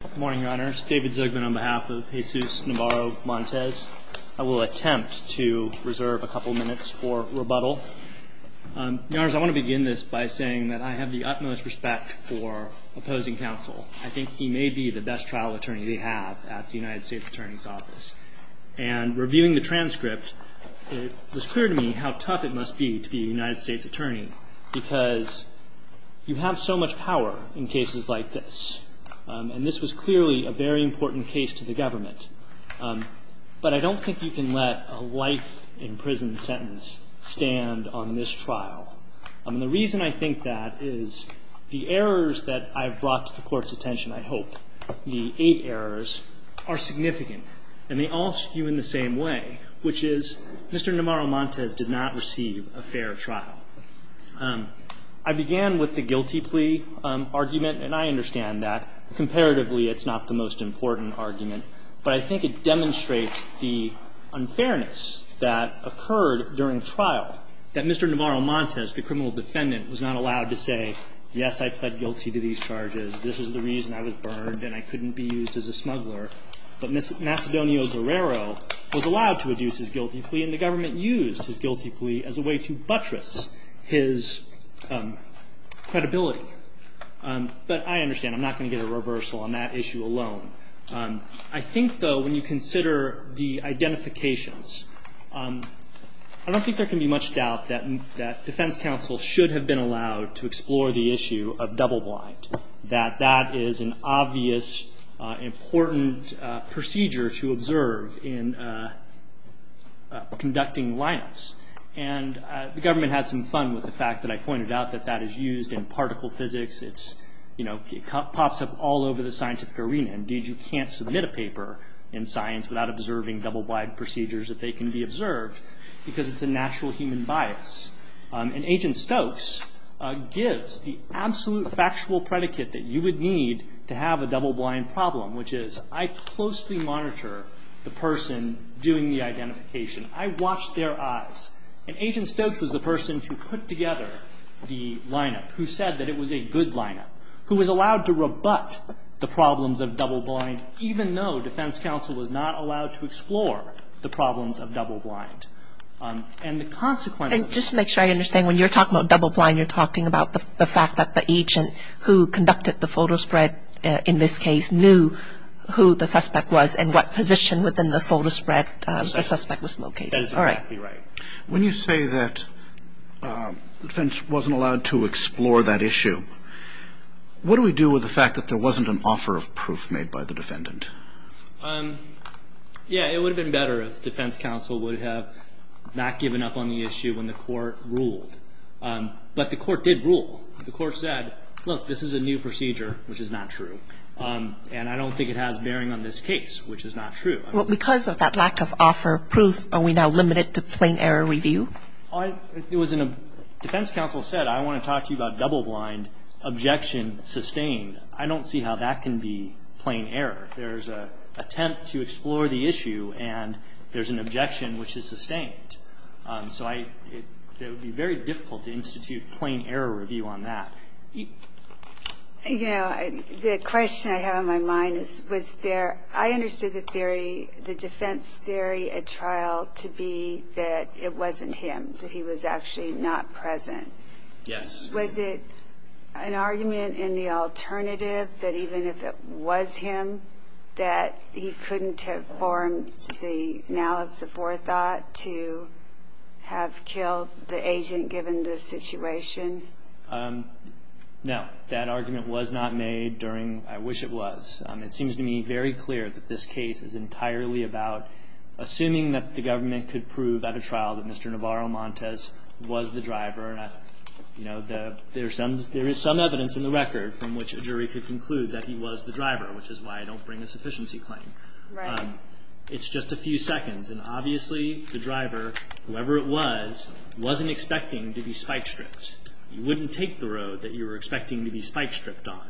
Good morning, Your Honors. David Zugman on behalf of Jesus Navarro-Montes. I will attempt to reserve a couple minutes for rebuttal. Your Honors, I want to begin this by saying that I have the utmost respect for opposing counsel. I think he may be the best trial attorney we have at the United States Attorney's Office. And reviewing the transcript, it was clear to me how tough it must be to be a United States attorney because you have so much power in cases like this. And this was clearly a very important case to the government. But I don't think you can let a life-in-prison sentence stand on this trial. And the reason I think that is the errors that I've brought to the Court's attention, I hope, the eight errors, are significant. And they all skew in the same way, which is Mr. Navarro-Montes did not receive a fair trial. I began with the guilty plea argument, and I understand that. Comparatively, it's not the most important argument. But I think it demonstrates the unfairness that occurred during trial, that Mr. Navarro-Montes, the criminal defendant, was not allowed to say, yes, I pled guilty to these charges, this is the reason I was burned and I couldn't be used as a smuggler. But Macedonio-Guerrero was allowed to reduce his guilty plea, and the government used his guilty plea as a way to buttress his credibility. But I understand. I'm not going to get a reversal on that issue alone. I think, though, when you consider the identifications, I don't think there can be much doubt that defense counsel should have been allowed to explore the issue of double blind, that that is an obvious, important procedure to observe in conducting lineups. And the government had some fun with the fact that I pointed out that that is used in particle physics. It pops up all over the scientific arena. Indeed, you can't submit a paper in science without observing double blind procedures, if they can be observed, because it's a natural human bias. And Agent Stokes gives the absolute factual predicate that you would need to have a double blind problem, which is I closely monitor the person doing the identification. I watch their eyes. And Agent Stokes was the person who put together the lineup, who said that it was a good lineup, who was allowed to rebut the problems of double blind, even though defense counsel was not allowed to explore the problems of double blind. And the consequences. And just to make sure I understand, when you're talking about double blind, you're talking about the fact that the agent who conducted the photo spread, in this case, knew who the suspect was and what position within the photo spread the suspect was located. That is exactly right. When you say that defense wasn't allowed to explore that issue, what do we do with the fact that there wasn't an offer of proof made by the defendant? Yeah. It would have been better if defense counsel would have not given up on the issue when the court ruled. But the court did rule. The court said, look, this is a new procedure, which is not true. And I don't think it has bearing on this case, which is not true. Well, because of that lack of offer of proof, are we now limited to plain error review? It was in a defense counsel said, I want to talk to you about double blind. Objection sustained. I don't see how that can be plain error. There's an attempt to explore the issue, and there's an objection which is sustained. So it would be very difficult to institute plain error review on that. You know, the question I have on my mind is, was there, I understood the theory, the defense theory at trial to be that it wasn't him, that he was actually not present. Yes. Was it an argument in the alternative that even if it was him, that he couldn't have formed the analysis of forethought to have killed the agent given this situation? No. That argument was not made during, I wish it was. It seems to me very clear that this case is entirely about assuming that the government could prove at a trial that Mr. Navarro Montes was the driver. You know, there is some evidence in the record from which a jury could conclude that he was the driver, which is why I don't bring a sufficiency claim. Right. It's just a few seconds. And obviously, the driver, whoever it was, wasn't expecting to be spike-stripped. You wouldn't take the road that you were expecting to be spike-stripped on.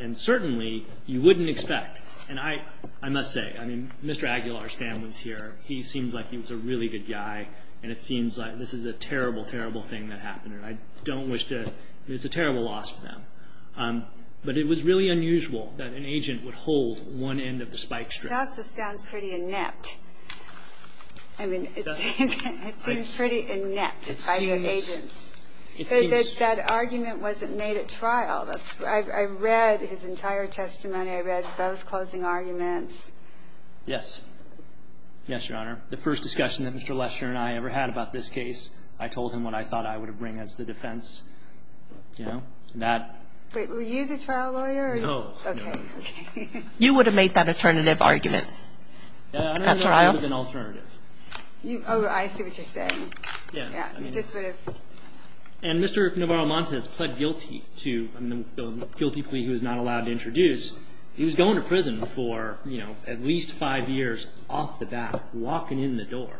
And certainly, you wouldn't expect, and I must say, I mean, Mr. Aguilar's here, he seems like he was a really good guy, and it seems like this is a terrible, terrible thing that happened, and I don't wish to, it's a terrible loss for them. But it was really unusual that an agent would hold one end of the spike-strip. It also sounds pretty inept. I mean, it seems pretty inept by the agents. That argument wasn't made at trial. I read his entire testimony. I read both closing arguments. Yes. Yes, Your Honor. The first discussion that Mr. Lesher and I ever had about this case, I told him what I thought I would bring as the defense. You know, and that. Wait. Were you the trial lawyer? No. Okay. You would have made that alternative argument at trial? I don't know what to do with an alternative. Oh, I see what you're saying. Yeah. And Mr. Navarro-Montes pled guilty to the guilty plea he was not allowed to introduce. He was going to prison for, you know, at least five years off the bat, walking in the door.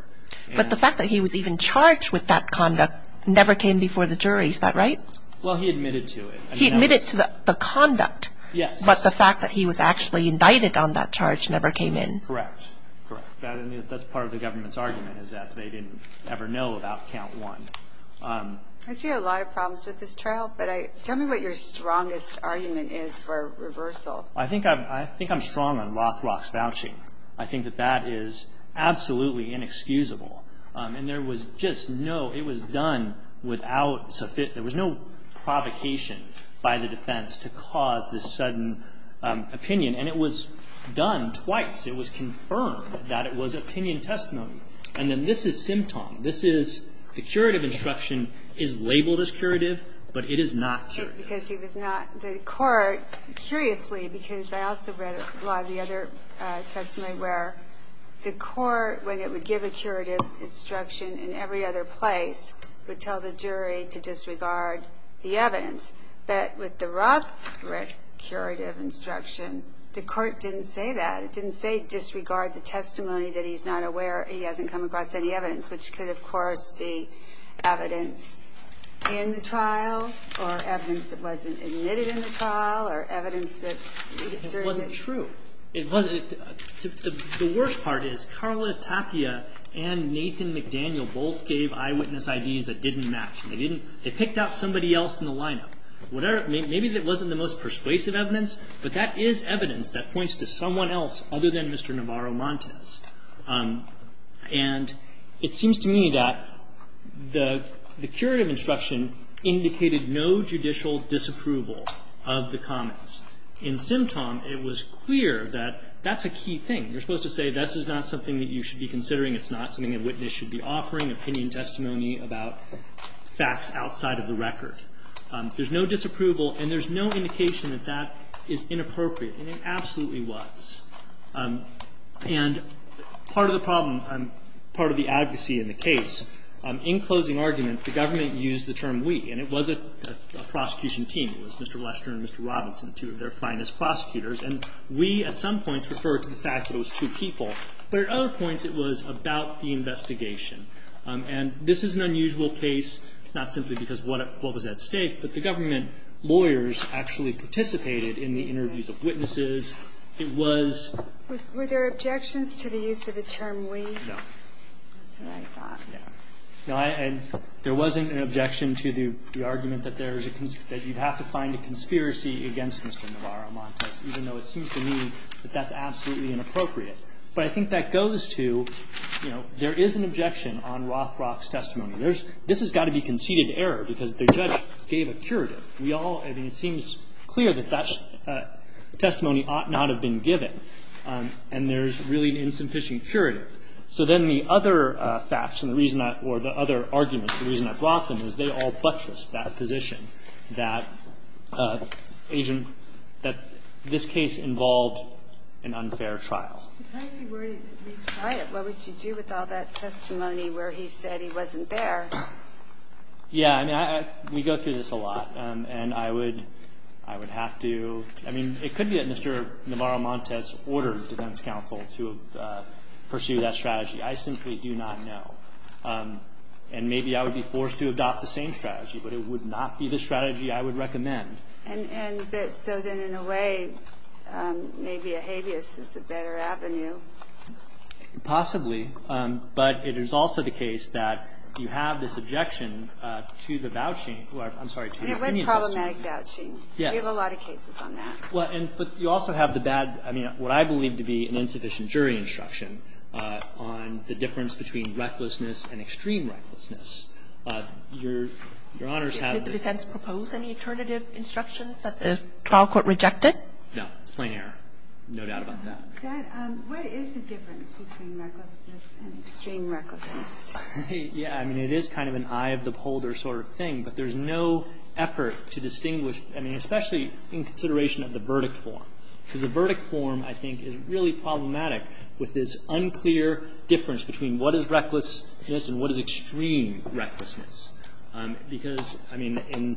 But the fact that he was even charged with that conduct never came before the jury. Is that right? Well, he admitted to it. He admitted to the conduct. Yes. But the fact that he was actually indicted on that charge never came in. Correct. That's part of the government's argument is that they didn't ever know about count one. I see a lot of problems with this trial. But tell me what your strongest argument is for reversal. I think I'm strong on Rothrock's vouching. I think that that is absolutely inexcusable. And there was just no – it was done without – there was no provocation by the defense to cause this sudden opinion. And it was done twice. It was confirmed that it was opinion testimony. And then this is symptom. This is – the curative instruction is labeled as curative, but it is not curative. Because he was not – the court – curiously, because I also read a lot of the other testimony where the court, when it would give a curative instruction in every other place, would tell the jury to disregard the evidence. But with the Rothrock curative instruction, the court didn't say that. It didn't say disregard the testimony that he's not aware – he hasn't come across any evidence, which could, of course, be evidence in the trial or evidence that wasn't admitted in the trial or evidence that – It wasn't true. It wasn't. The worst part is Carla Tapia and Nathan McDaniel both gave eyewitness IDs that didn't match. They didn't – they picked out somebody else in the lineup. Whatever – maybe it wasn't the most persuasive evidence, but that is evidence that points to someone else other than Mr. Navarro Montes. And it seems to me that the curative instruction indicated no judicial disapproval of the comments. In Simtom, it was clear that that's a key thing. You're supposed to say this is not something that you should be considering. It's not something a witness should be offering, opinion testimony about facts outside of the record. There's no disapproval, and there's no indication that that is inappropriate. And it absolutely was. And part of the problem, part of the advocacy in the case, in closing argument, the government used the term we. And it was a prosecution team. It was Mr. Lester and Mr. Robinson, two of their finest prosecutors. And we, at some points, referred to the fact that it was two people. But at other points, it was about the investigation. And this is an unusual case, not simply because of what was at stake, but the government lawyers actually participated in the interviews of witnesses. It was ---- Were there objections to the use of the term we? No. That's what I thought. No. And there wasn't an objection to the argument that you have to find a conspiracy against Mr. Navarro Montes, even though it seems to me that that's absolutely inappropriate. But I think that goes to, you know, there is an objection on Rothrock's testimony. This has got to be conceded error, because the judge gave a curative. We all ---- I mean, it seems clear that that testimony ought not have been given. And there's really an insufficient curative. So then the other facts and the reason I ---- or the other arguments, the reason I brought them, is they all buttress that position, that agent ---- that this case involved an unfair trial. If he were to be quiet, what would you do with all that testimony where he said he wasn't there? Yeah. I mean, we go through this a lot. And I would have to ---- I mean, it could be that Mr. Navarro Montes ordered defense counsel to pursue that strategy. I simply do not know. And maybe I would be forced to adopt the same strategy, but it would not be the strategy I would recommend. And so then, in a way, maybe a habeas is a better avenue. Possibly. But it is also the case that you have this objection to the vouching ---- I'm sorry, to the opinion testimony. It was problematic vouching. Yes. We have a lot of cases on that. Well, and you also have the bad ---- I mean, what I believe to be an insufficient jury instruction on the difference between recklessness and extreme recklessness. Your Honor's have ---- Did the defense propose any alternative instructions that the trial court rejected? No. It's plain error. No doubt about that. What is the difference between recklessness and extreme recklessness? Yeah. I mean, it is kind of an eye of the beholder sort of thing. But there's no effort to distinguish ---- I mean, especially in consideration of the verdict form. Because the verdict form, I think, is really problematic with this unclear difference between what is recklessness and what is extreme recklessness. Because, I mean, in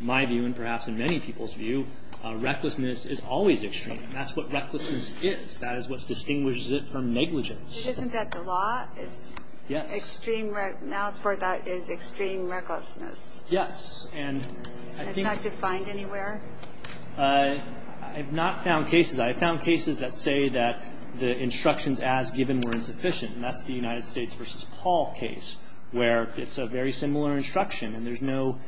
my view and perhaps in many people's view, recklessness is always extreme. And that's what recklessness is. That is what distinguishes it from negligence. Isn't that the law? Yes. It's extreme ---- Now it's where that is extreme recklessness. Yes. And I think ---- It's not defined anywhere? I have not found cases. I have found cases that say that the instructions as given were insufficient. And that's the United States v. Paul case, where it's a very similar instruction. And there's no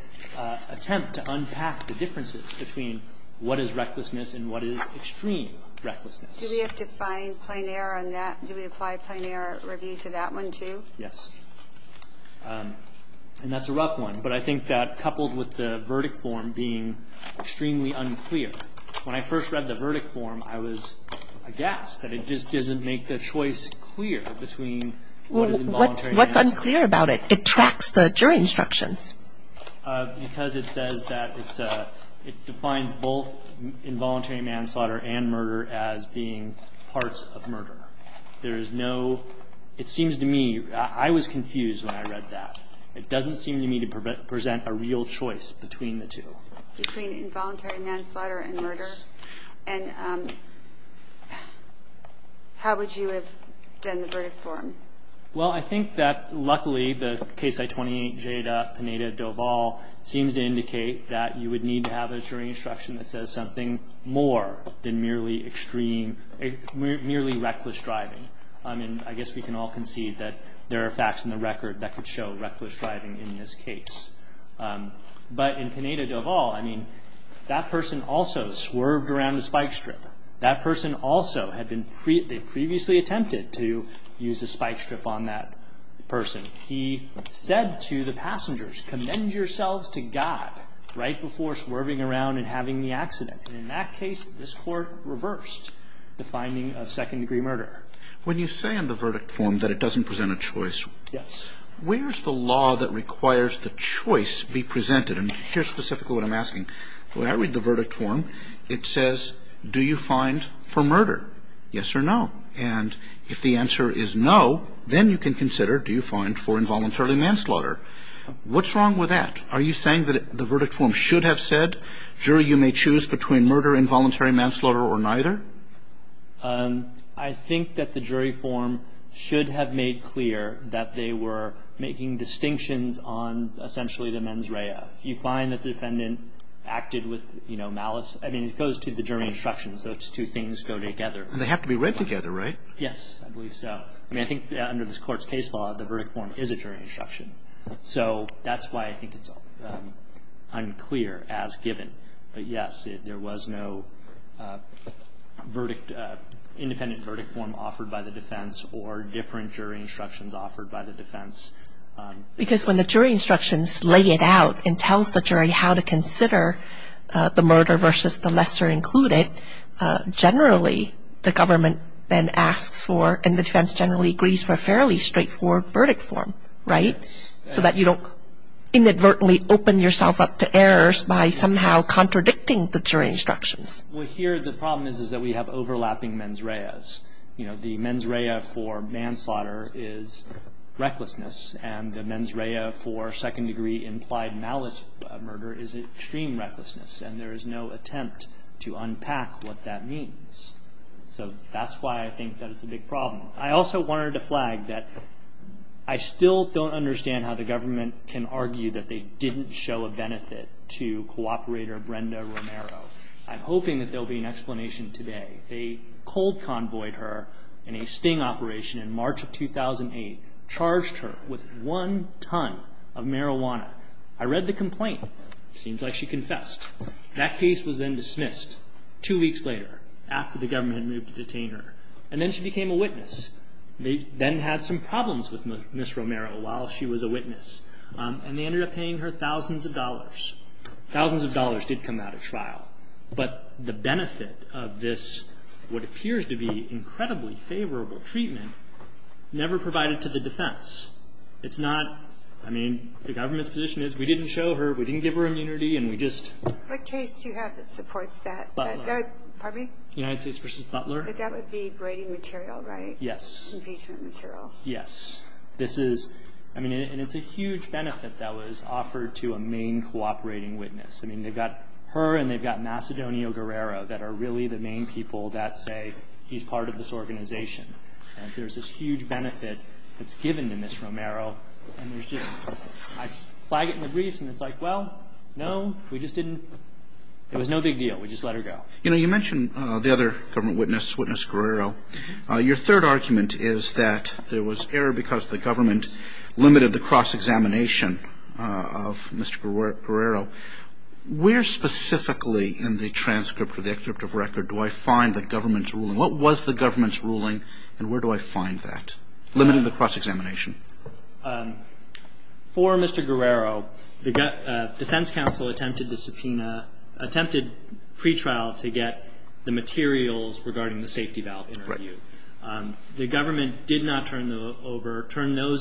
attempt to unpack the differences between what is recklessness and what is extreme recklessness. Do we have to find plain error on that? Do we apply plain error review to that one, too? Yes. And that's a rough one. But I think that, coupled with the verdict form being extremely unclear, when I first read the verdict form, I was aghast that it just doesn't make the choice clear between what is involuntary ---- What's unclear about it? It tracks the jury instructions. Because it says that it's a ---- It defines both involuntary manslaughter and murder as being parts of murder. There is no ---- It seems to me ---- I was confused when I read that. It doesn't seem to me to present a real choice between the two. Between involuntary manslaughter and murder? Yes. And how would you have done the verdict form? Well, I think that, luckily, the Case I-28 Jada Pineda-Dovall seems to indicate that you would need to have a jury instruction that says something more than merely reckless driving. I mean, I guess we can all concede that there are facts in the record that could show reckless driving in this case. But in Pineda-Dovall, I mean, that person also swerved around the spike strip. That person also had been previously attempted to use the spike strip on that person. He said to the passengers, Commend yourselves to God right before swerving around and having the accident. And in that case, this Court reversed the finding of second-degree murder. When you say in the verdict form that it doesn't present a choice, where's the law that requires the choice be presented? And here's specifically what I'm asking. When I read the verdict form, it says, Do you find for murder, yes or no? And if the answer is no, then you can consider, Do you find for involuntary manslaughter? What's wrong with that? Are you saying that the verdict form should have said, Jury, you may choose between murder, involuntary manslaughter, or neither? I think that the jury form should have made clear that they were making distinctions on essentially the mens rea. If you find that the defendant acted with, you know, malice, I mean, it goes to the jury instructions. Those two things go together. And they have to be read together, right? Yes, I believe so. I mean, I think under this Court's case law, the verdict form is a jury instruction. So that's why I think it's unclear as given. But, yes, there was no independent verdict form offered by the defense or different jury instructions offered by the defense. Because when the jury instructions lay it out and tells the jury how to consider the murder versus the lesser included, generally the government then asks for and the defense generally agrees for a fairly straightforward verdict form, right? So that you don't inadvertently open yourself up to errors by somehow contradicting the jury instructions. Well, here the problem is that we have overlapping mens reas. You know, the mens rea for manslaughter is recklessness. And the mens rea for second-degree implied malice murder is extreme recklessness. And there is no attempt to unpack what that means. So that's why I think that it's a big problem. I also wanted to flag that I still don't understand how the government can argue that they didn't show a benefit to cooperator Brenda Romero. I'm hoping that there will be an explanation today. A cold convoyed her in a sting operation in March of 2008, charged her with one ton of marijuana. I read the complaint. It seems like she confessed. That case was then dismissed two weeks later after the government had moved to detain her. And then she became a witness. They then had some problems with Ms. Romero while she was a witness. And they ended up paying her thousands of dollars. Thousands of dollars did come out of trial. But the benefit of this, what appears to be incredibly favorable treatment, never provided to the defense. It's not, I mean, the government's position is we didn't show her, we didn't give her immunity, and we just. What case do you have that supports that? Butler. Pardon me? United States v. Butler. That would be braiding material, right? Yes. Impeachment material. Yes. This is, I mean, and it's a huge benefit that was offered to a main cooperating witness. I mean, they've got her and they've got Macedonio Guerrero that are really the main people that say he's part of this organization. And there's this huge benefit that's given to Ms. Romero. And there's just, I flag it in the briefs and it's like, well, no, we just didn't. It was no big deal. We just let her go. You know, you mentioned the other government witness, Witness Guerrero. Your third argument is that there was error because the government limited the cross-examination of Mr. Guerrero. Where specifically in the transcript or the excerpt of record do I find the government's ruling? What was the government's ruling and where do I find that? Limiting the cross-examination. For Mr. Guerrero, the defense counsel attempted to subpoena, attempted pretrial to get the materials regarding the safety valve interview. Right. The government did not turn those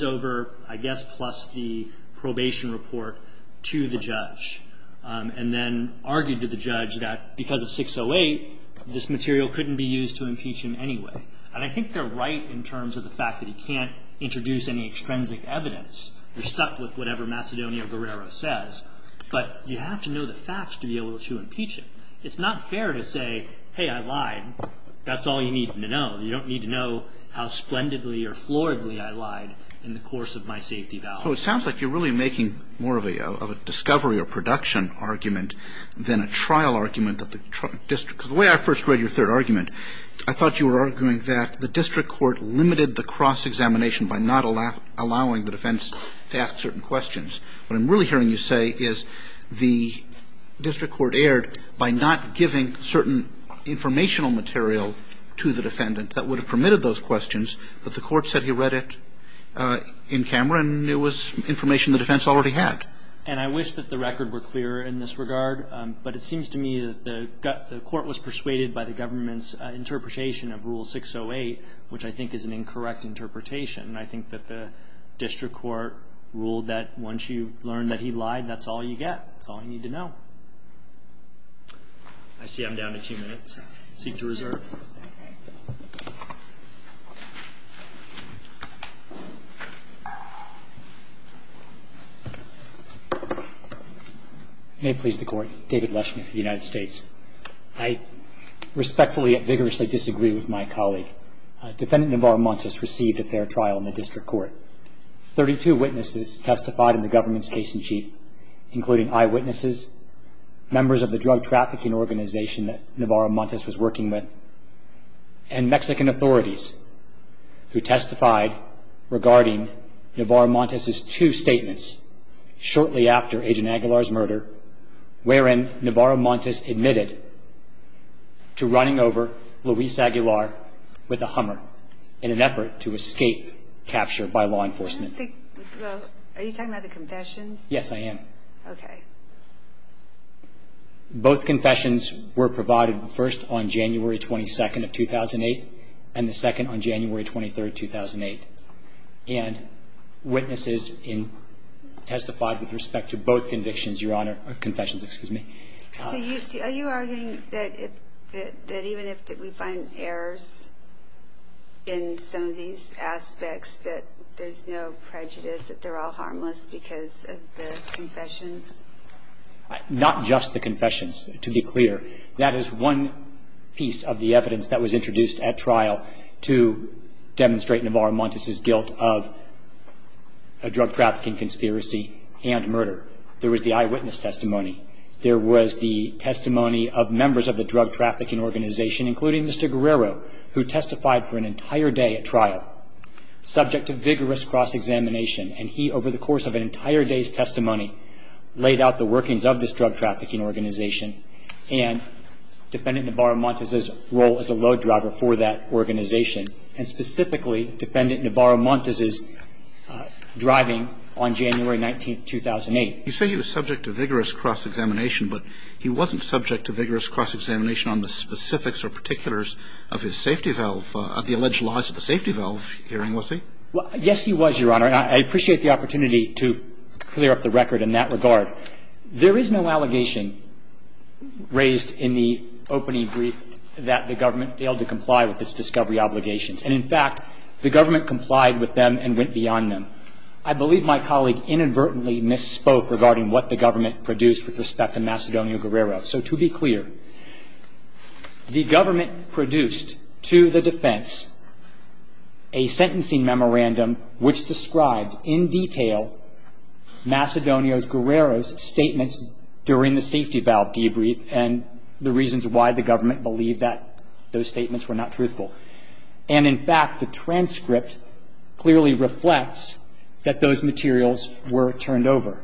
over, I guess, plus the probation report to the judge. And then argued to the judge that because of 608, this material couldn't be used to impeach him anyway. And I think they're right in terms of the fact that he can't introduce any extrinsic evidence. They're stuck with whatever Macedonio Guerrero says. But you have to know the facts to be able to impeach him. It's not fair to say, hey, I lied. That's all you need to know. You don't need to know how splendidly or floridly I lied in the course of my safety valve. So it sounds like you're really making more of a discovery or production argument than a trial argument that the district because the way I first read your third argument, I thought you were arguing that the district court limited the cross-examination by not allowing the defense to ask certain questions. What I'm really hearing you say is the district court erred by not giving certain informational material to the defendant that would have permitted those questions. But the court said he read it in camera, and it was information the defense already had. And I wish that the record were clearer in this regard. But it seems to me that the court was persuaded by the government's interpretation of Rule 608, which I think is an incorrect interpretation. I think that the district court ruled that once you learn that he lied, that's all you get. That's all you need to know. I see I'm down to two minutes. Seek to reserve. May it please the Court. David Leshman of the United States. I respectfully and vigorously disagree with my colleague. Defendant Navarro Montes received a fair trial in the district court. Thirty-two witnesses testified in the government's case in chief, including eyewitnesses, members of the drug trafficking organization that Navarro Montes was working with, and Mexican authorities who testified regarding Navarro Montes' two statements shortly after Agent Aguilar's murder, wherein Navarro Montes admitted to running over Luis Aguilar with a Hummer in an effort to escape capture by law enforcement. Are you talking about the confessions? Yes, I am. Okay. Both confessions were provided first on January 22nd of 2008 and the second on January 23rd, 2008. And witnesses testified with respect to both convictions, Your Honor. Confessions, excuse me. Are you arguing that even if we find errors in some of these aspects, that there's no prejudice, that they're all harmless because of the confessions? That is one piece of the evidence that was introduced at trial to demonstrate Navarro Montes' guilt of a drug trafficking conspiracy and murder. There was the eyewitness testimony. There was the testimony of members of the drug trafficking organization, including Mr. Guerrero, who testified for an entire day at trial, subject to vigorous cross-examination. And he, over the course of an entire day's testimony, laid out the workings of this drug trafficking organization and Defendant Navarro Montes' role as a load driver for that organization and specifically Defendant Navarro Montes' driving on January 19th, 2008. You say he was subject to vigorous cross-examination, but he wasn't subject to vigorous cross-examination on the specifics or particulars of his safety valve, of the alleged loss of the safety valve hearing, was he? Yes, he was, Your Honor. I appreciate the opportunity to clear up the record in that regard. There is no allegation raised in the opening brief that the government failed to comply with its discovery obligations. And, in fact, the government complied with them and went beyond them. I believe my colleague inadvertently misspoke regarding what the government produced with respect to Macedonio Guerrero. So, to be clear, the government produced to the defense a sentencing memorandum which described in detail Macedonio Guerrero's statements during the safety valve debrief and the reasons why the government believed that those statements were not truthful. And, in fact, the transcript clearly reflects that those materials were turned over.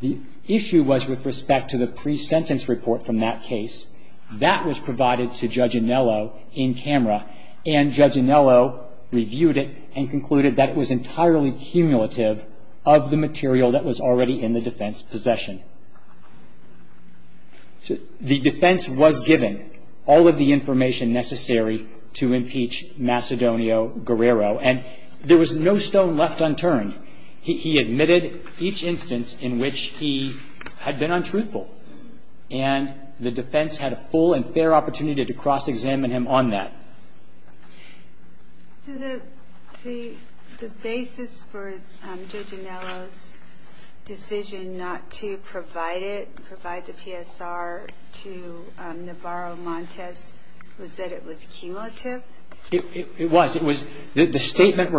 The issue was with respect to the pre-sentence report from that case. That was provided to Judge Anello in camera, and Judge Anello reviewed it and concluded that it was entirely cumulative of the material that was already in the defense possession. The defense was given all of the information necessary to impeach Macedonio Guerrero, and there was no stone left unturned. He admitted each instance in which he had been untruthful, and the defense had a full and fair opportunity to cross-examine him on that. So the basis for Judge Anello's decision not to provide it, provide the PSR to Navarro Montes, was that it was cumulative? It was. It was. The statement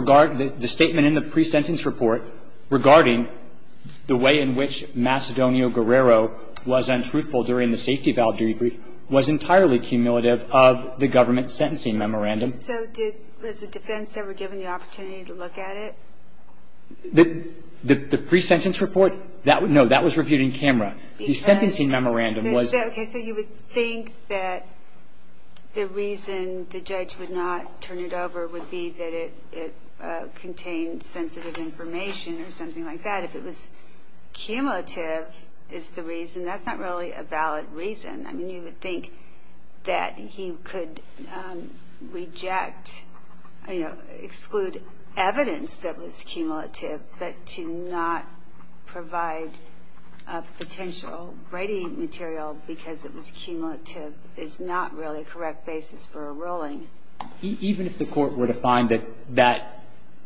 in the pre-sentence report regarding the way in which Macedonio Guerrero was untruthful during the safety valve debrief was entirely cumulative of the government sentencing memorandum. So was the defense ever given the opportunity to look at it? The pre-sentence report? No. That was reviewed in camera. The sentencing memorandum was. Okay. So you would think that the reason the judge would not turn it over would be that it contained sensitive information or something like that. If it was cumulative is the reason. That's not really a valid reason. I mean, you would think that he could reject, you know, exclude evidence that was cumulative, but to not provide a potential writing material because it was cumulative is not really a correct basis for a ruling. Even if the Court were to find that that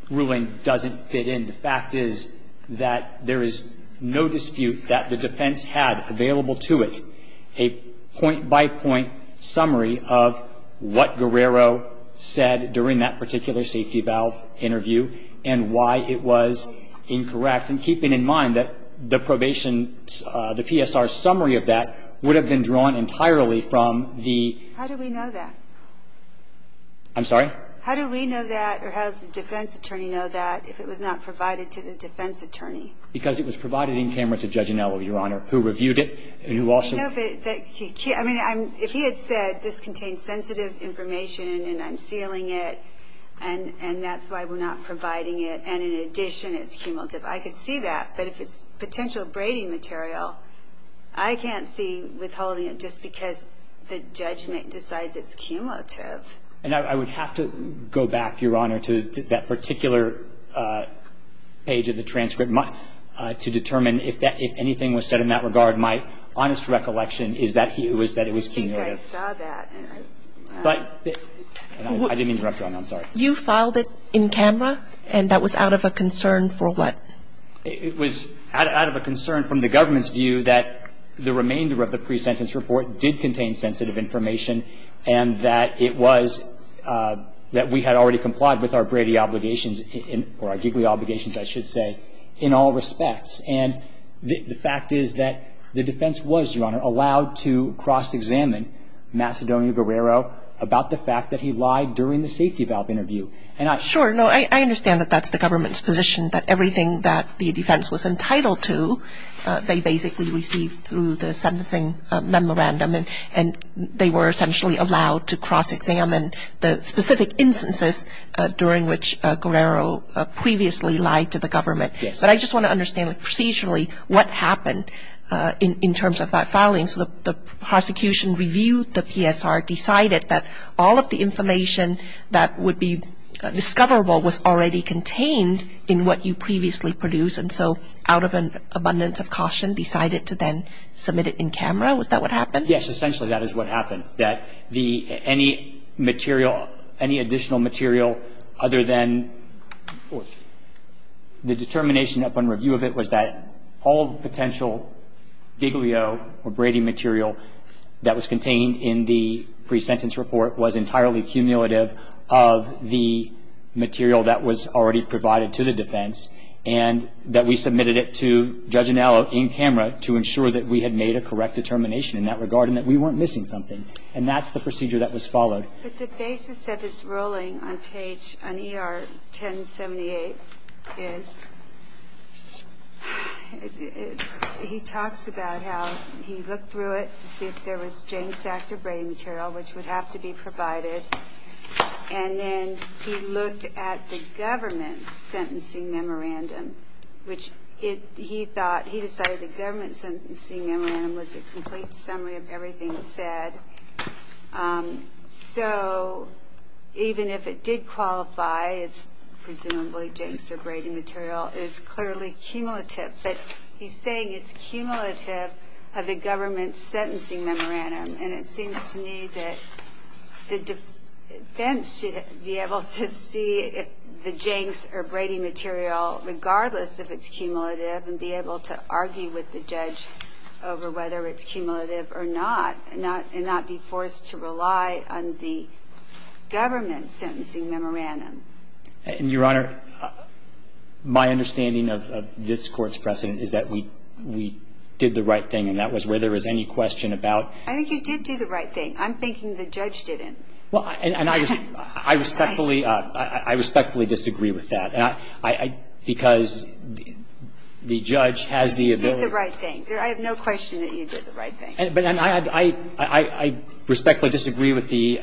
ruling doesn't fit in, the fact is that there is no dispute that the defense had available to it a point by point summary of what Guerrero said during that particular safety valve interview and why it was incorrect. And keeping in mind that the probation, the PSR summary of that would have been drawn entirely from the. How do we know that? I'm sorry? How do we know that? Or how does the defense attorney know that if it was not provided to the defense attorney? Because it was provided in camera to Judge Anello, Your Honor, who reviewed it. And who also. No, but he can't. I mean, if he had said this contains sensitive information and I'm sealing it and that's why we're not providing it and in addition it's cumulative, I could see that. But if it's potential braiding material, I can't see withholding it just because the judgment decides it's cumulative. And I would have to go back, Your Honor, to that particular page of the transcript to determine if anything was said in that regard. My honest recollection is that it was cumulative. I think I saw that. I didn't interrupt you, Your Honor. I'm sorry. You filed it in camera and that was out of a concern for what? It was out of a concern from the government's view that the remainder of the defense was entitled to cross-examine Macedonia Guerrero about the fact that he lied during the safety valve interview. Sure. No, I understand that that's the government's position that everything that the defense was entitled to, they basically received through the sentencing memorandum. Guerrero. I know that the government has to cross-examine the specific instances during which Guerrero previously lied to the government. Yes. But I just want to understand procedurally what happened in terms of that filing. So the prosecution reviewed the PSR, decided that all of the information that would be discoverable was already contained in what you previously produced and so out of an abundance of caution, decided to then submit it in camera? Was that what happened? Yes, essentially that is what happened, that any additional material other than the determination upon review of it was that all the potential Giglio or Brady material that was contained in the pre-sentence report was entirely cumulative of the material that was already provided to the defense and that we submitted it to Judge Anello in camera to ensure that we had made a correct determination in that regard and that we weren't missing something. And that's the procedure that was followed. But the basis of this ruling on page, on ER 1078, is he talks about how he looked through it to see if there was James Sackter Brady material which would have to be provided and then he looked at the government's sentencing memorandum which he thought, he decided the government's sentencing memorandum was a complete summary of everything said. So even if it did qualify as presumably James Sackter Brady material, it is clearly cumulative. But he's saying it's cumulative of the government's sentencing memorandum and it seems to me that the defense should be able to see if the Jenks or Brady material, regardless if it's cumulative, and be able to argue with the judge over whether it's cumulative or not and not be forced to rely on the government's sentencing memorandum. Your Honor, my understanding of this Court's precedent is that we did the right thing and that was where there was any question about I think you did do the right thing. I'm thinking the judge didn't. I respectfully disagree with that because the judge has the ability You did the right thing. I have no question that you did the right thing. I respectfully disagree with the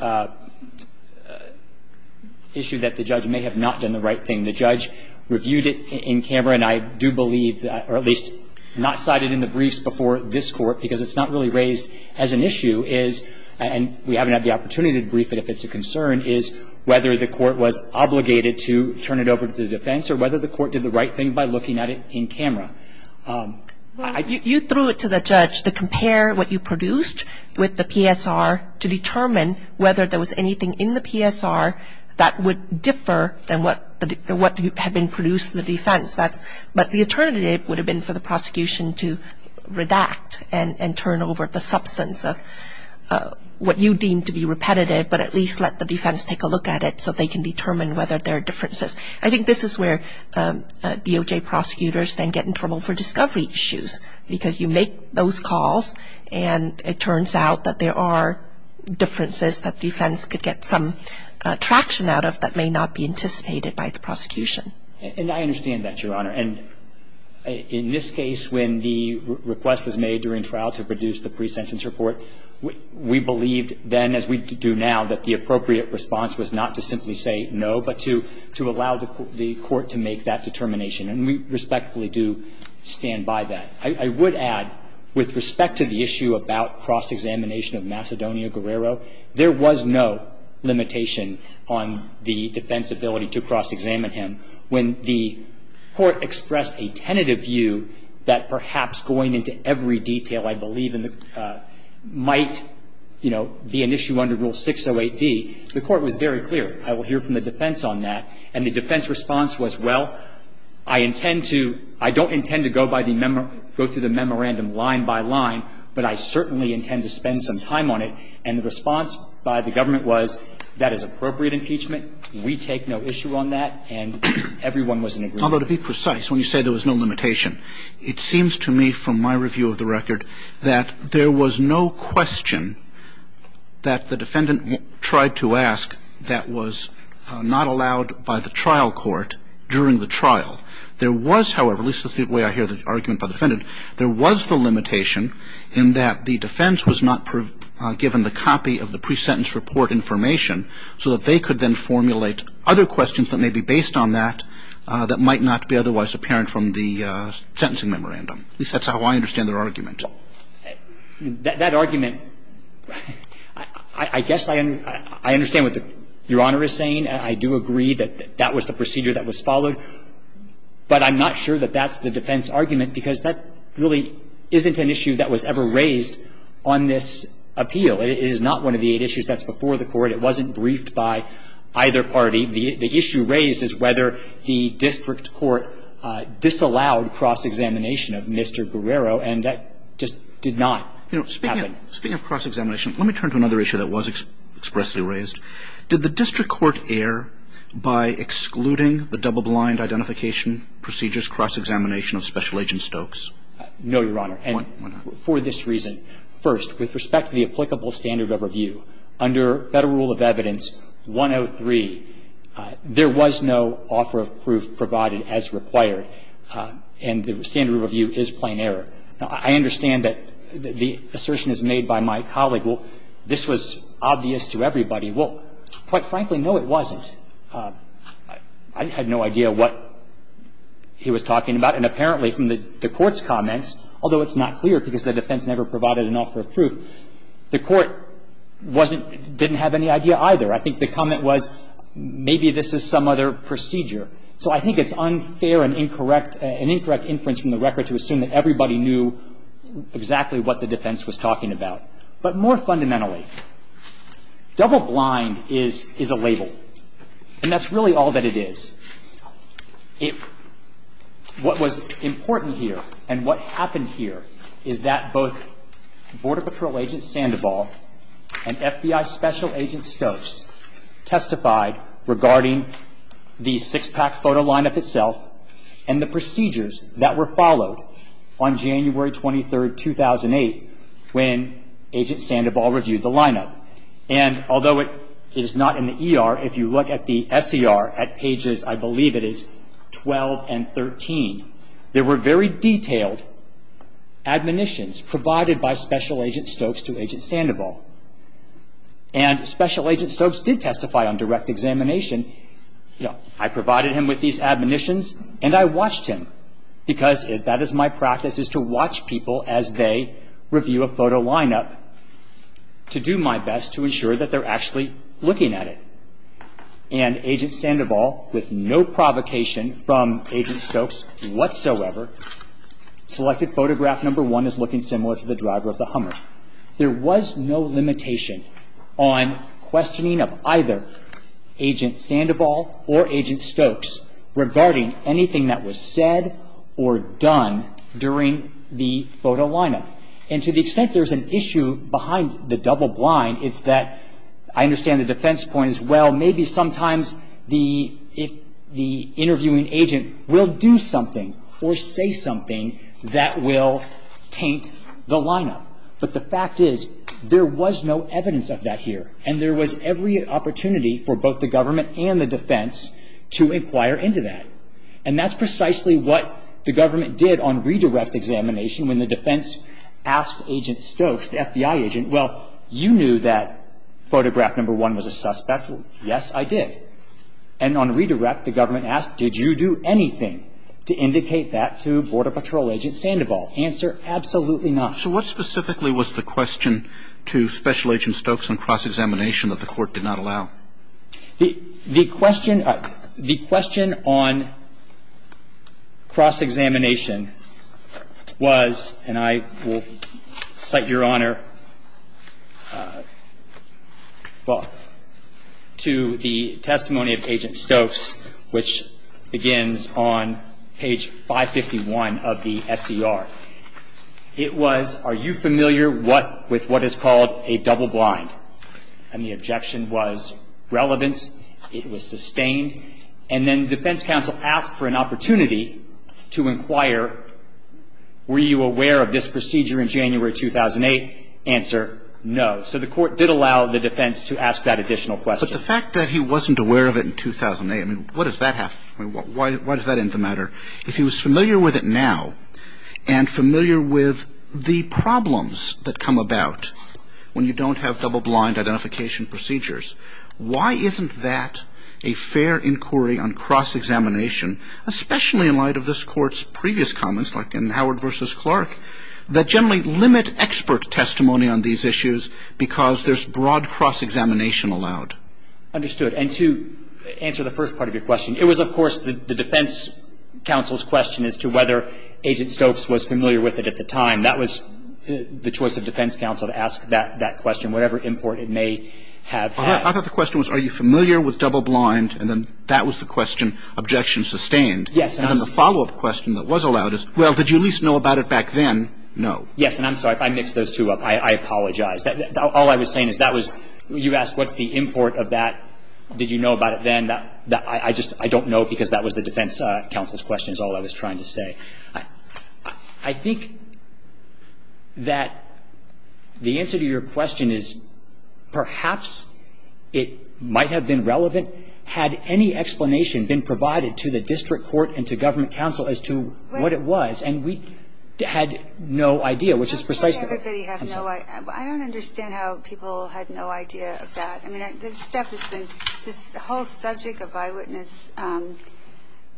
issue that the judge may have not done the right thing. The judge reviewed it in camera and I do believe, or at least not cited in the briefs before this Court because it's not really raised as an issue is, and we haven't had the opportunity to brief it if it's a concern, is whether the Court was obligated to turn it over to the defense or whether the Court did the right thing by looking at it in camera. You threw it to the judge to compare what you produced with the PSR to determine whether there was anything in the PSR that would differ than what had been produced in the defense. But the alternative would have been for the prosecution to redact and turn over the substance of what you deemed to be repetitive but at least let the defense take a look at it so they can determine whether there are differences. I think this is where DOJ prosecutors then get in trouble for discovery issues because you make those calls and it turns out that there are differences that defense could get some traction out of that may not be anticipated by the prosecution. And I understand that, Your Honor. And in this case, when the request was made during trial to produce the presentence report, we believed then, as we do now, that the appropriate response was not to simply say no but to allow the Court to make that determination. And we respectfully do stand by that. I would add, with respect to the issue about cross-examination of Macedonio Guerrero, there was no limitation on the defense's ability to cross-examine him when the Court expressed a tentative view that perhaps going into every detail I believe might be an issue under Rule 608B. The Court was very clear. I will hear from the defense on that. And the defense response was, well, I intend to – I don't intend to go through the memorandum line by line, but I certainly intend to spend some time on it. And the response by the government was, that is appropriate impeachment. We take no issue on that. And everyone was in agreement. Although, to be precise, when you say there was no limitation, it seems to me from my review of the record that there was no question that the defendant tried to ask that was not allowed by the trial court during the trial. There was, however, at least the way I hear the argument by the defendant, there was the limitation in that the defense was not given the copy of the presentence report information so that they could then formulate other questions that may be based on that that might not be otherwise apparent from the sentencing memorandum. At least that's how I understand their argument. That argument, I guess I understand what Your Honor is saying. I do agree that that was the procedure that was followed. But I'm not sure that that's the defense argument because that really isn't an issue that was ever raised on this appeal. It is not one of the eight issues that's before the Court. It wasn't briefed by either party. The issue raised is whether the district court disallowed cross-examination of Mr. Guerrero, and that just did not happen. You know, speaking of cross-examination, let me turn to another issue that was expressly raised. Did the district court err by excluding the double-blind identification procedures cross-examination of Special Agent Stokes? No, Your Honor. Why not? For this reason. First, with respect to the applicable standard of review, under Federal Rule of Evidence 103, there was no offer of proof provided as required. And the standard of review is plain error. Now, I understand that the assertion is made by my colleague, well, this was obvious to everybody. Well, quite frankly, no, it wasn't. I had no idea what he was talking about. And apparently from the Court's comments, although it's not clear because the defense never provided an offer of proof, the Court wasn't, didn't have any idea either. I think the comment was maybe this is some other procedure. So I think it's unfair and incorrect, an incorrect inference from the record to assume that everybody knew exactly what the defense was talking about. But more fundamentally, double-blind is a label. And that's really all that it is. It – what was important here and what happened here is that both Border Patrol Agent Sandoval and FBI Special Agent Stokes testified regarding the six-pack photo lineup itself and the procedures that were followed on January 23, 2008, when Agent Sandoval reviewed the lineup. And although it is not in the ER, if you look at the SER at pages, I believe it is 12 and 13, there were very detailed admonitions provided by Special Agent Stokes to Agent Sandoval. And Special Agent Stokes did testify on direct examination. I provided him with these admonitions and I watched him because that is my practice, is to watch people as they review a photo lineup to do my best to ensure that they're actually looking at it. And Agent Sandoval, with no provocation from Agent Stokes whatsoever, selected photograph number one as looking similar to the driver of the Hummer. There was no limitation on questioning of either Agent Sandoval or Agent Stokes regarding anything that was said or done during the photo lineup. And to the extent there's an issue behind the double-blind, it's that I understand the defense point as well. Maybe sometimes the interviewing agent will do something or say something that will taint the lineup. But the fact is there was no evidence of that here. And there was every opportunity for both the government and the defense to inquire into that. And that's precisely what the government did on redirect examination when the defense asked Agent Stokes, the FBI agent, well, you knew that photograph number one was a suspect. Yes, I did. And on redirect, the government asked, did you do anything to indicate that to Border Patrol Agent Sandoval? Answer, absolutely not. So what specifically was the question to Special Agent Stokes on cross-examination that the Court did not allow? The question on cross-examination was, and I will cite Your Honor, well, to the testimony of Agent Stokes, which begins on page 551 of the SCR. It was, are you familiar with what is called a double-blind? And the objection was relevance. It was sustained. And then the defense counsel asked for an opportunity to inquire, were you aware of this procedure in January 2008? Answer, no. So the Court did allow the defense to ask that additional question. But the fact that he wasn't aware of it in 2008, I mean, what does that have? Why does that end the matter? If he was familiar with it now and familiar with the problems that come about when you don't have double-blind identification procedures, why isn't that a fair inquiry on cross-examination, that generally limit expert testimony on these issues because there's broad cross-examination allowed? Understood. And to answer the first part of your question, it was, of course, the defense counsel's question as to whether Agent Stokes was familiar with it at the time. That was the choice of defense counsel to ask that question, whatever import it may have had. I thought the question was, are you familiar with double-blind? And then that was the question, objection sustained. Yes. And then the follow-up question that was allowed is, well, did you at least know about it back then? No. Yes, and I'm sorry if I mixed those two up. I apologize. All I was saying is that was you asked what's the import of that. Did you know about it then? I just don't know because that was the defense counsel's question is all I was trying to say. I think that the answer to your question is perhaps it might have been relevant had any explanation been provided to the district court and to government counsel as to what it was. And we had no idea, which is precisely what I'm saying. I don't understand how people had no idea of that. I mean, this whole subject of eyewitness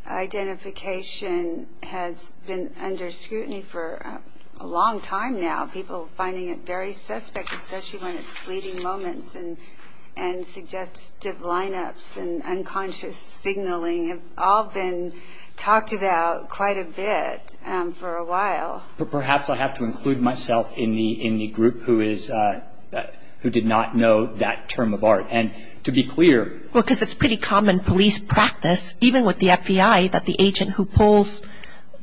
identification has been under scrutiny for a long time now, people finding it very suspect, especially when it's fleeting moments and suggestive lineups and unconscious signaling. They've all been talked about quite a bit for a while. Perhaps I have to include myself in the group who did not know that term of art. And to be clear. Well, because it's pretty common police practice, even with the FBI that the agent who pulls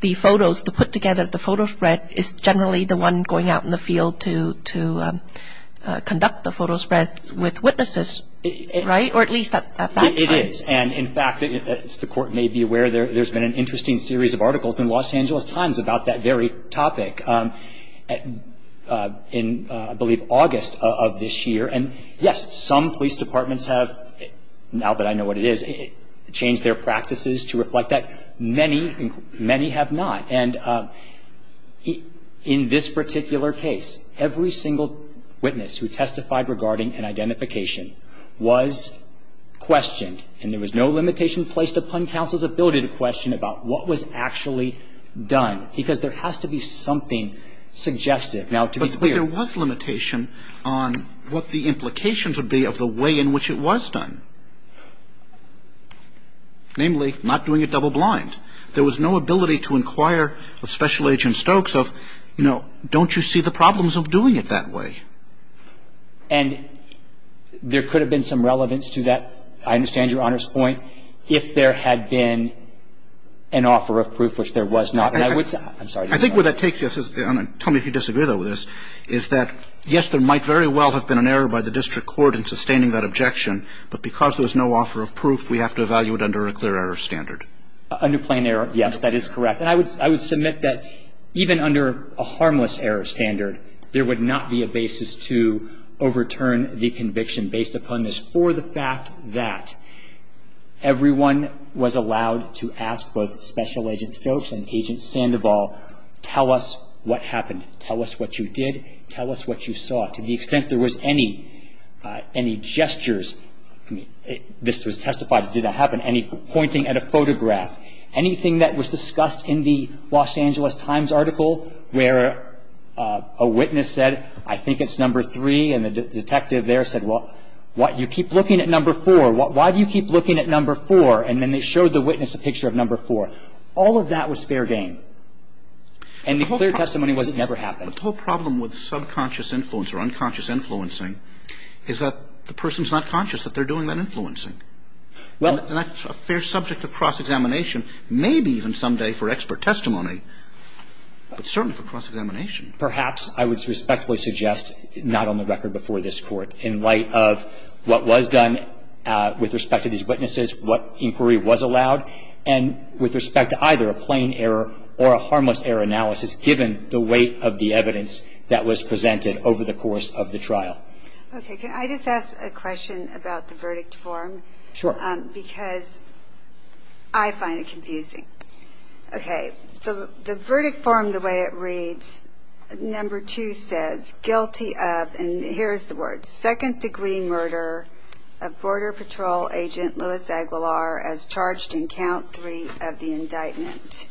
the photos to put together the photo spread is generally the one going out in the field to conduct the photo spread with witnesses, right? Or at least at that time. It is. And, in fact, as the Court may be aware, there's been an interesting series of articles in Los Angeles Times about that very topic. In, I believe, August of this year. And, yes, some police departments have, now that I know what it is, changed their practices to reflect that. Many have not. And in this particular case, every single witness who testified regarding an identification was questioned. And there was no limitation placed upon counsel's ability to question about what was actually done. Because there has to be something suggestive. Now, to be clear. But there was limitation on what the implications would be of the way in which it was done. Namely, not doing it double blind. There was no ability to inquire of Special Agent Stokes of, you know, I think that's a very important point. And I think that's a very important point. But don't you see the problems of doing it that way? And there could have been some relevance to that. I understand Your Honor's point. If there had been an offer of proof, which there was not. And I would say – I'm sorry. I think where that takes you. Tell me if you disagree, though, with this. There would not be a basis to overturn the conviction based upon this. For the fact that everyone was allowed to ask both Special Agent Stokes and Agent Sandoval, tell us what happened. Tell us what you did. Tell us what you saw. To the extent there was any gestures – this was testified, it did not happen – any pointing at a photograph, anything that was discussed in the Los Angeles Times article where a witness said, I think it's number three. And the detective there said, well, you keep looking at number four. Why do you keep looking at number four? And then they showed the witness a picture of number four. All of that was fair game. And the clear testimony was it never happened. The whole problem with subconscious influence or unconscious influencing is that the person's not conscious that they're doing that influencing. And that's a fair subject of cross-examination, maybe even someday for expert testimony, but certainly for cross-examination. Perhaps I would respectfully suggest not on the record before this Court in light of what was done with respect to these witnesses, what inquiry was allowed, and with respect to either a plain error or a harmless error analysis given the weight of the evidence that was presented over the course of the trial. Okay. Can I just ask a question about the verdict form? Sure. Because I find it confusing. Okay. The verdict form, the way it reads, number two says, guilty of, and here's the word, second-degree murder of Border Patrol agent Louis Aguilar as charged in count three of the indictment.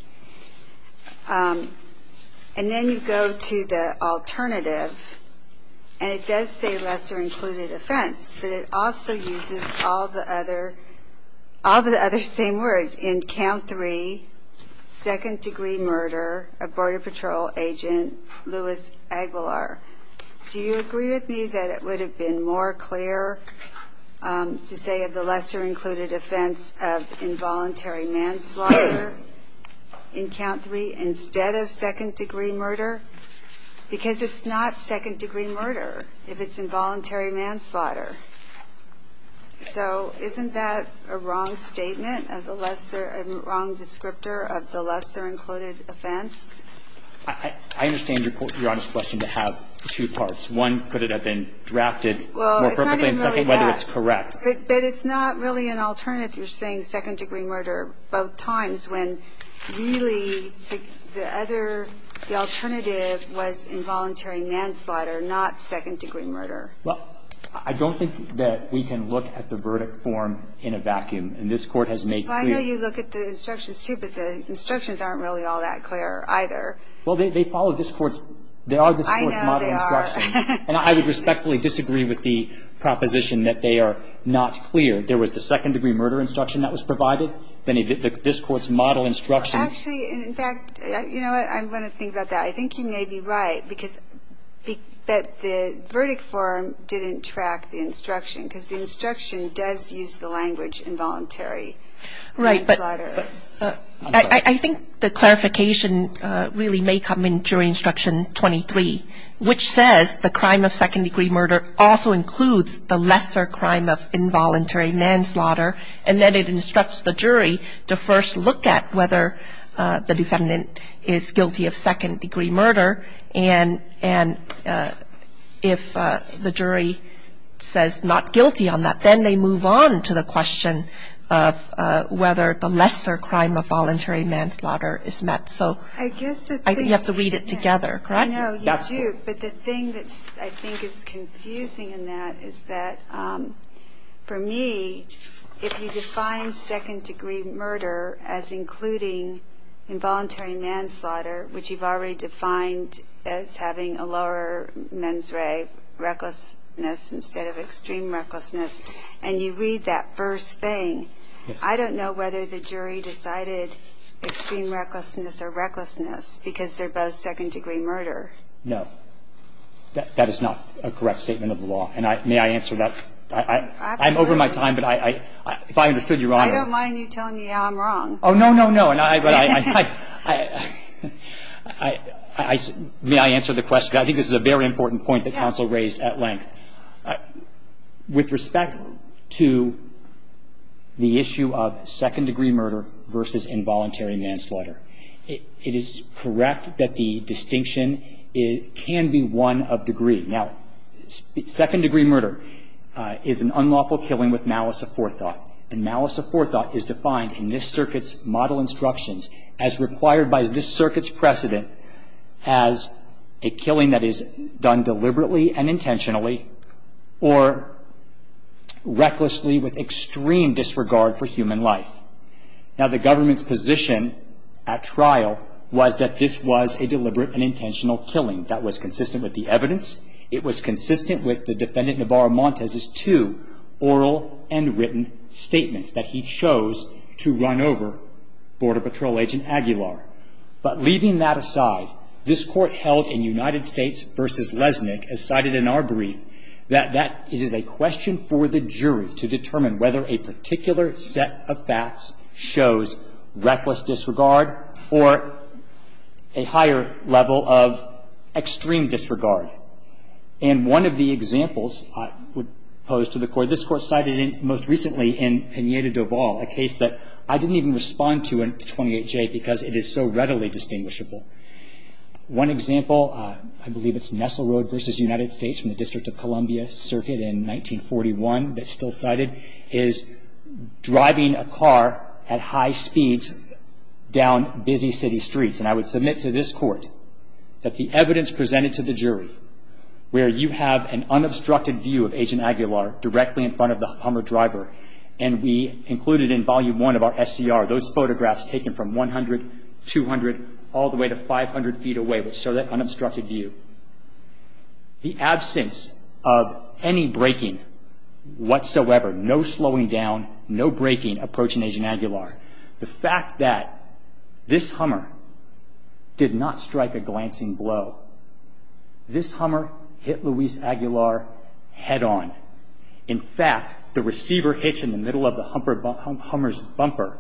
And then you go to the alternative, and it does say lesser-included offense, but it also uses all the other same words, in count three, second-degree murder of Border Patrol agent Louis Aguilar. Do you agree with me that it would have been more clear to say of the lesser-included offense of involuntary manslaughter in count three instead of second-degree murder? Because it's not second-degree murder if it's involuntary manslaughter. So isn't that a wrong statement of the lesser or a wrong descriptor of the lesser-included offense? I understand Your Honor's question to have two parts. One, could it have been drafted more perfectly? Well, it's not even really that. And second, whether it's correct. But it's not really an alternative. You're saying second-degree murder both times when really the other, the alternative was involuntary manslaughter, not second-degree murder. Well, I don't think that we can look at the verdict form in a vacuum, and this Court has made clear. Well, I know you look at the instructions too, but the instructions aren't really all that clear either. Well, they follow this Court's – they are this Court's model instructions. I know they are. And I would respectfully disagree with the proposition that they are not clear. There was the second-degree murder instruction that was provided. Then this Court's model instruction. Actually, in fact, you know what? I want to think about that. I think you may be right because the verdict form didn't track the instruction because the instruction does use the language involuntary manslaughter. Right. But I think the clarification really may come in during Instruction 23, which says the crime of second-degree murder also includes the lesser crime of involuntary manslaughter, and then it instructs the jury to first look at whether the defendant is guilty of second-degree murder. And if the jury says not guilty on that, then they move on to the question of whether the lesser crime of voluntary manslaughter is met. So I think you have to read it together, correct? No, you do. But the thing that I think is confusing in that is that, for me, if you define second-degree murder as including involuntary manslaughter, which you've already defined as having a lower mens re, recklessness, instead of extreme recklessness, and you read that first thing, I don't know whether the jury decided extreme recklessness or recklessness because they're both second-degree murder. No. That is not a correct statement of the law. And may I answer that? Absolutely. I'm over my time, but if I understood Your Honor. I don't mind you telling me how I'm wrong. Oh, no, no, no. May I answer the question? I think this is a very important point that counsel raised at length. Yes. With respect to the issue of second-degree murder versus involuntary manslaughter, it is correct that the distinction can be one of degree. Now, second-degree murder is an unlawful killing with malice of forethought. And malice of forethought is defined in this circuit's model instructions as required by this circuit's precedent as a killing that is done deliberately and intentionally or recklessly with extreme disregard for human life. Now, the government's position at trial was that this was a deliberate and intentional killing. That was consistent with the evidence. It was consistent with the defendant Navarro-Montez's two oral and written statements that he chose to run over Border Patrol Agent Aguilar. But leaving that aside, this Court held in United States v. Lesnick, as cited in our brief, that that is a question for the jury to determine whether a particular set of facts shows reckless disregard or a higher level of extreme disregard. And one of the examples I would pose to the Court, this Court cited most recently in Pineda-Dovall, a case that I didn't even respond to in 28J because it is so readily distinguishable. One example, I believe it's Nessel Road v. United States from the District of Columbia Circuit in 1941 that's still cited, is driving a car at high speeds down busy city streets. And I would submit to this Court that the evidence presented to the jury, where you have an unobstructed view of Agent Aguilar directly in front of the Hummer driver, and we included in Volume 1 of our SCR those photographs taken from 100, 200, all the way to 500 feet away, which show that unobstructed view, the absence of any braking whatsoever, no slowing down, no braking approaching Agent Aguilar. The fact that this Hummer did not strike a glancing blow. This Hummer hit Luis Aguilar head on. In fact, the receiver hitch in the middle of the Hummer's bumper,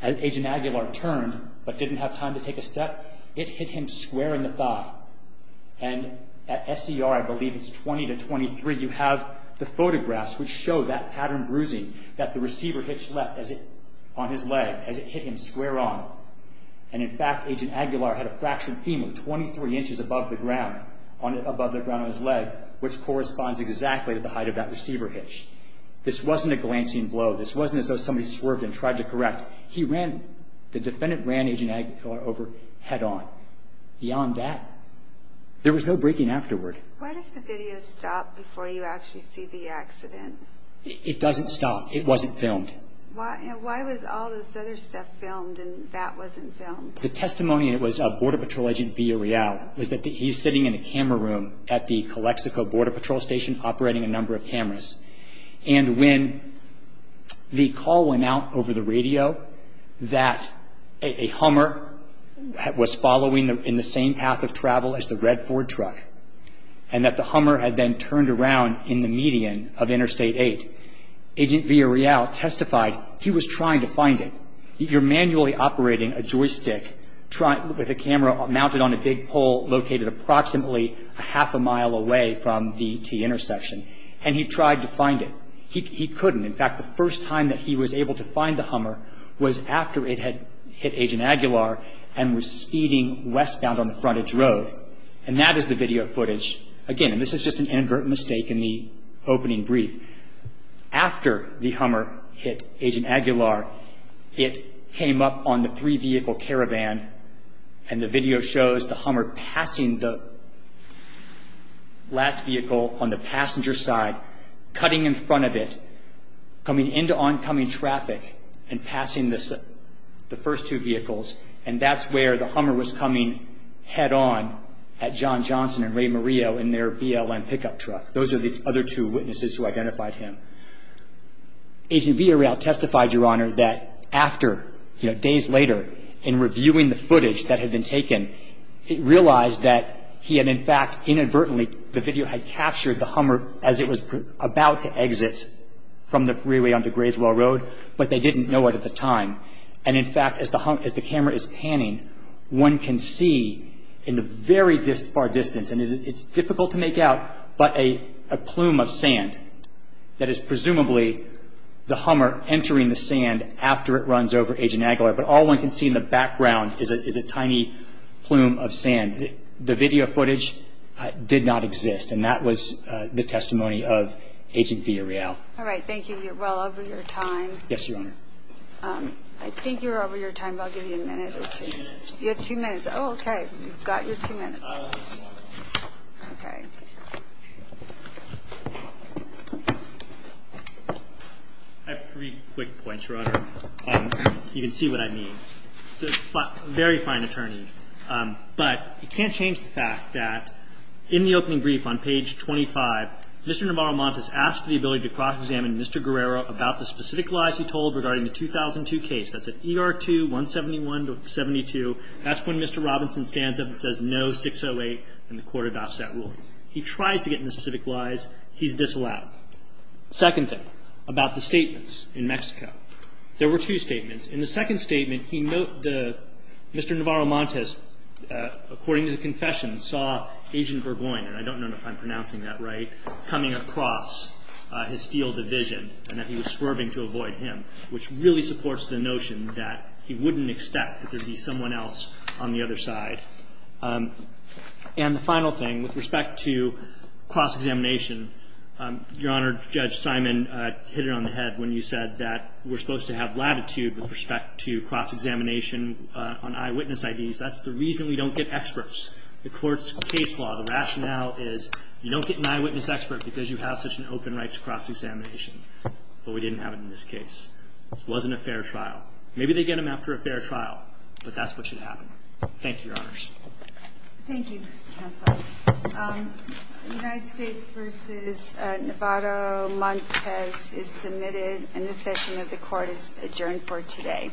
as Agent Aguilar turned but didn't have time to take a step, it hit him square in the thigh. And at SCR, I believe it's 20 to 23, you have the photographs which show that pattern bruising, that the receiver hitch left on his leg as it hit him square on. And in fact, Agent Aguilar had a fractured femur 23 inches above the ground, above the ground on his leg, which corresponds exactly to the height of that receiver hitch. This wasn't a glancing blow. This wasn't as though somebody swerved and tried to correct. He ran, the defendant ran Agent Aguilar over head on. Beyond that, there was no braking afterward. Why does the video stop before you actually see the accident? It doesn't stop. It wasn't filmed. Why was all this other stuff filmed and that wasn't filmed? The testimony, and it was Border Patrol Agent Villareal, was that he's sitting in a camera room at the Calexico Border Patrol Station operating a number of cameras. And when the call went out over the radio that a Hummer was following in the same path of travel as the red Ford truck, and that the Hummer had been turned around in the median of Interstate 8, Agent Villareal testified he was trying to find it. You're manually operating a joystick with a camera mounted on a big pole located approximately a half a mile away from the T-intersection, and he tried to find it. He couldn't. In fact, the first time that he was able to find the Hummer was after it had hit Agent Aguilar and was speeding westbound on the frontage road. And that is the video footage. Again, this is just an inadvertent mistake in the opening brief. After the Hummer hit Agent Aguilar, it came up on the three-vehicle caravan, and the video shows the Hummer passing the last vehicle on the passenger side, cutting in front of it, coming into oncoming traffic, and passing the first two vehicles. And that's where the Hummer was coming head-on at John Johnson and Ray Murillo in their BLM pickup truck. Those are the other two witnesses who identified him. Agent Villareal testified, Your Honor, that after, days later, in reviewing the footage that had been taken, he realized that he had, in fact, inadvertently, the video had captured the Hummer as it was about to exit from the freeway onto Grayswell Road, but they didn't know it at the time. And, in fact, as the camera is panning, one can see in the very far distance, and it's difficult to make out, but a plume of sand that is presumably the Hummer entering the sand after it runs over Agent Aguilar, but all one can see in the background is a tiny plume of sand. The video footage did not exist, and that was the testimony of Agent Villareal. All right. Thank you. You're well over your time. Yes, Your Honor. I think you're over your time, but I'll give you a minute or two. You have two minutes. You have two minutes. Oh, okay. You've got your two minutes. Okay. I have three quick points, Your Honor. You can see what I mean. A very fine attorney, but you can't change the fact that in the opening brief on page 25, Mr. Navarro-Montes asked for the ability to cross-examine Mr. Guerrero about the specific lies he told regarding the 2002 case. That's at ER 2-171-72. That's when Mr. Robinson stands up and says no, 608, and the court adopts that rule. He tries to get into the specific lies. He's disallowed. Second thing, about the statements in Mexico. There were two statements. In the second statement, Mr. Navarro-Montes, according to the confession, saw Agent Burgoyne, and I don't know if I'm pronouncing that right, coming across his field of vision and that he was swerving to avoid him, which really supports the notion that he wouldn't expect that there would be someone else on the other side. And the final thing, with respect to cross-examination, Your Honor, Judge Simon hit it on the head when you said that we're supposed to have latitude with respect to cross-examination on eyewitness IDs. That's the reason we don't get experts. The court's case law, the rationale is you don't get an eyewitness expert because you have such an open right to cross-examination. But we didn't have it in this case. It wasn't a fair trial. Maybe they get them after a fair trial, but that's what should happen. Thank you, Your Honors. Thank you, counsel. United States v. Navarro-Montes is submitted, and this session of the court is adjourned for today.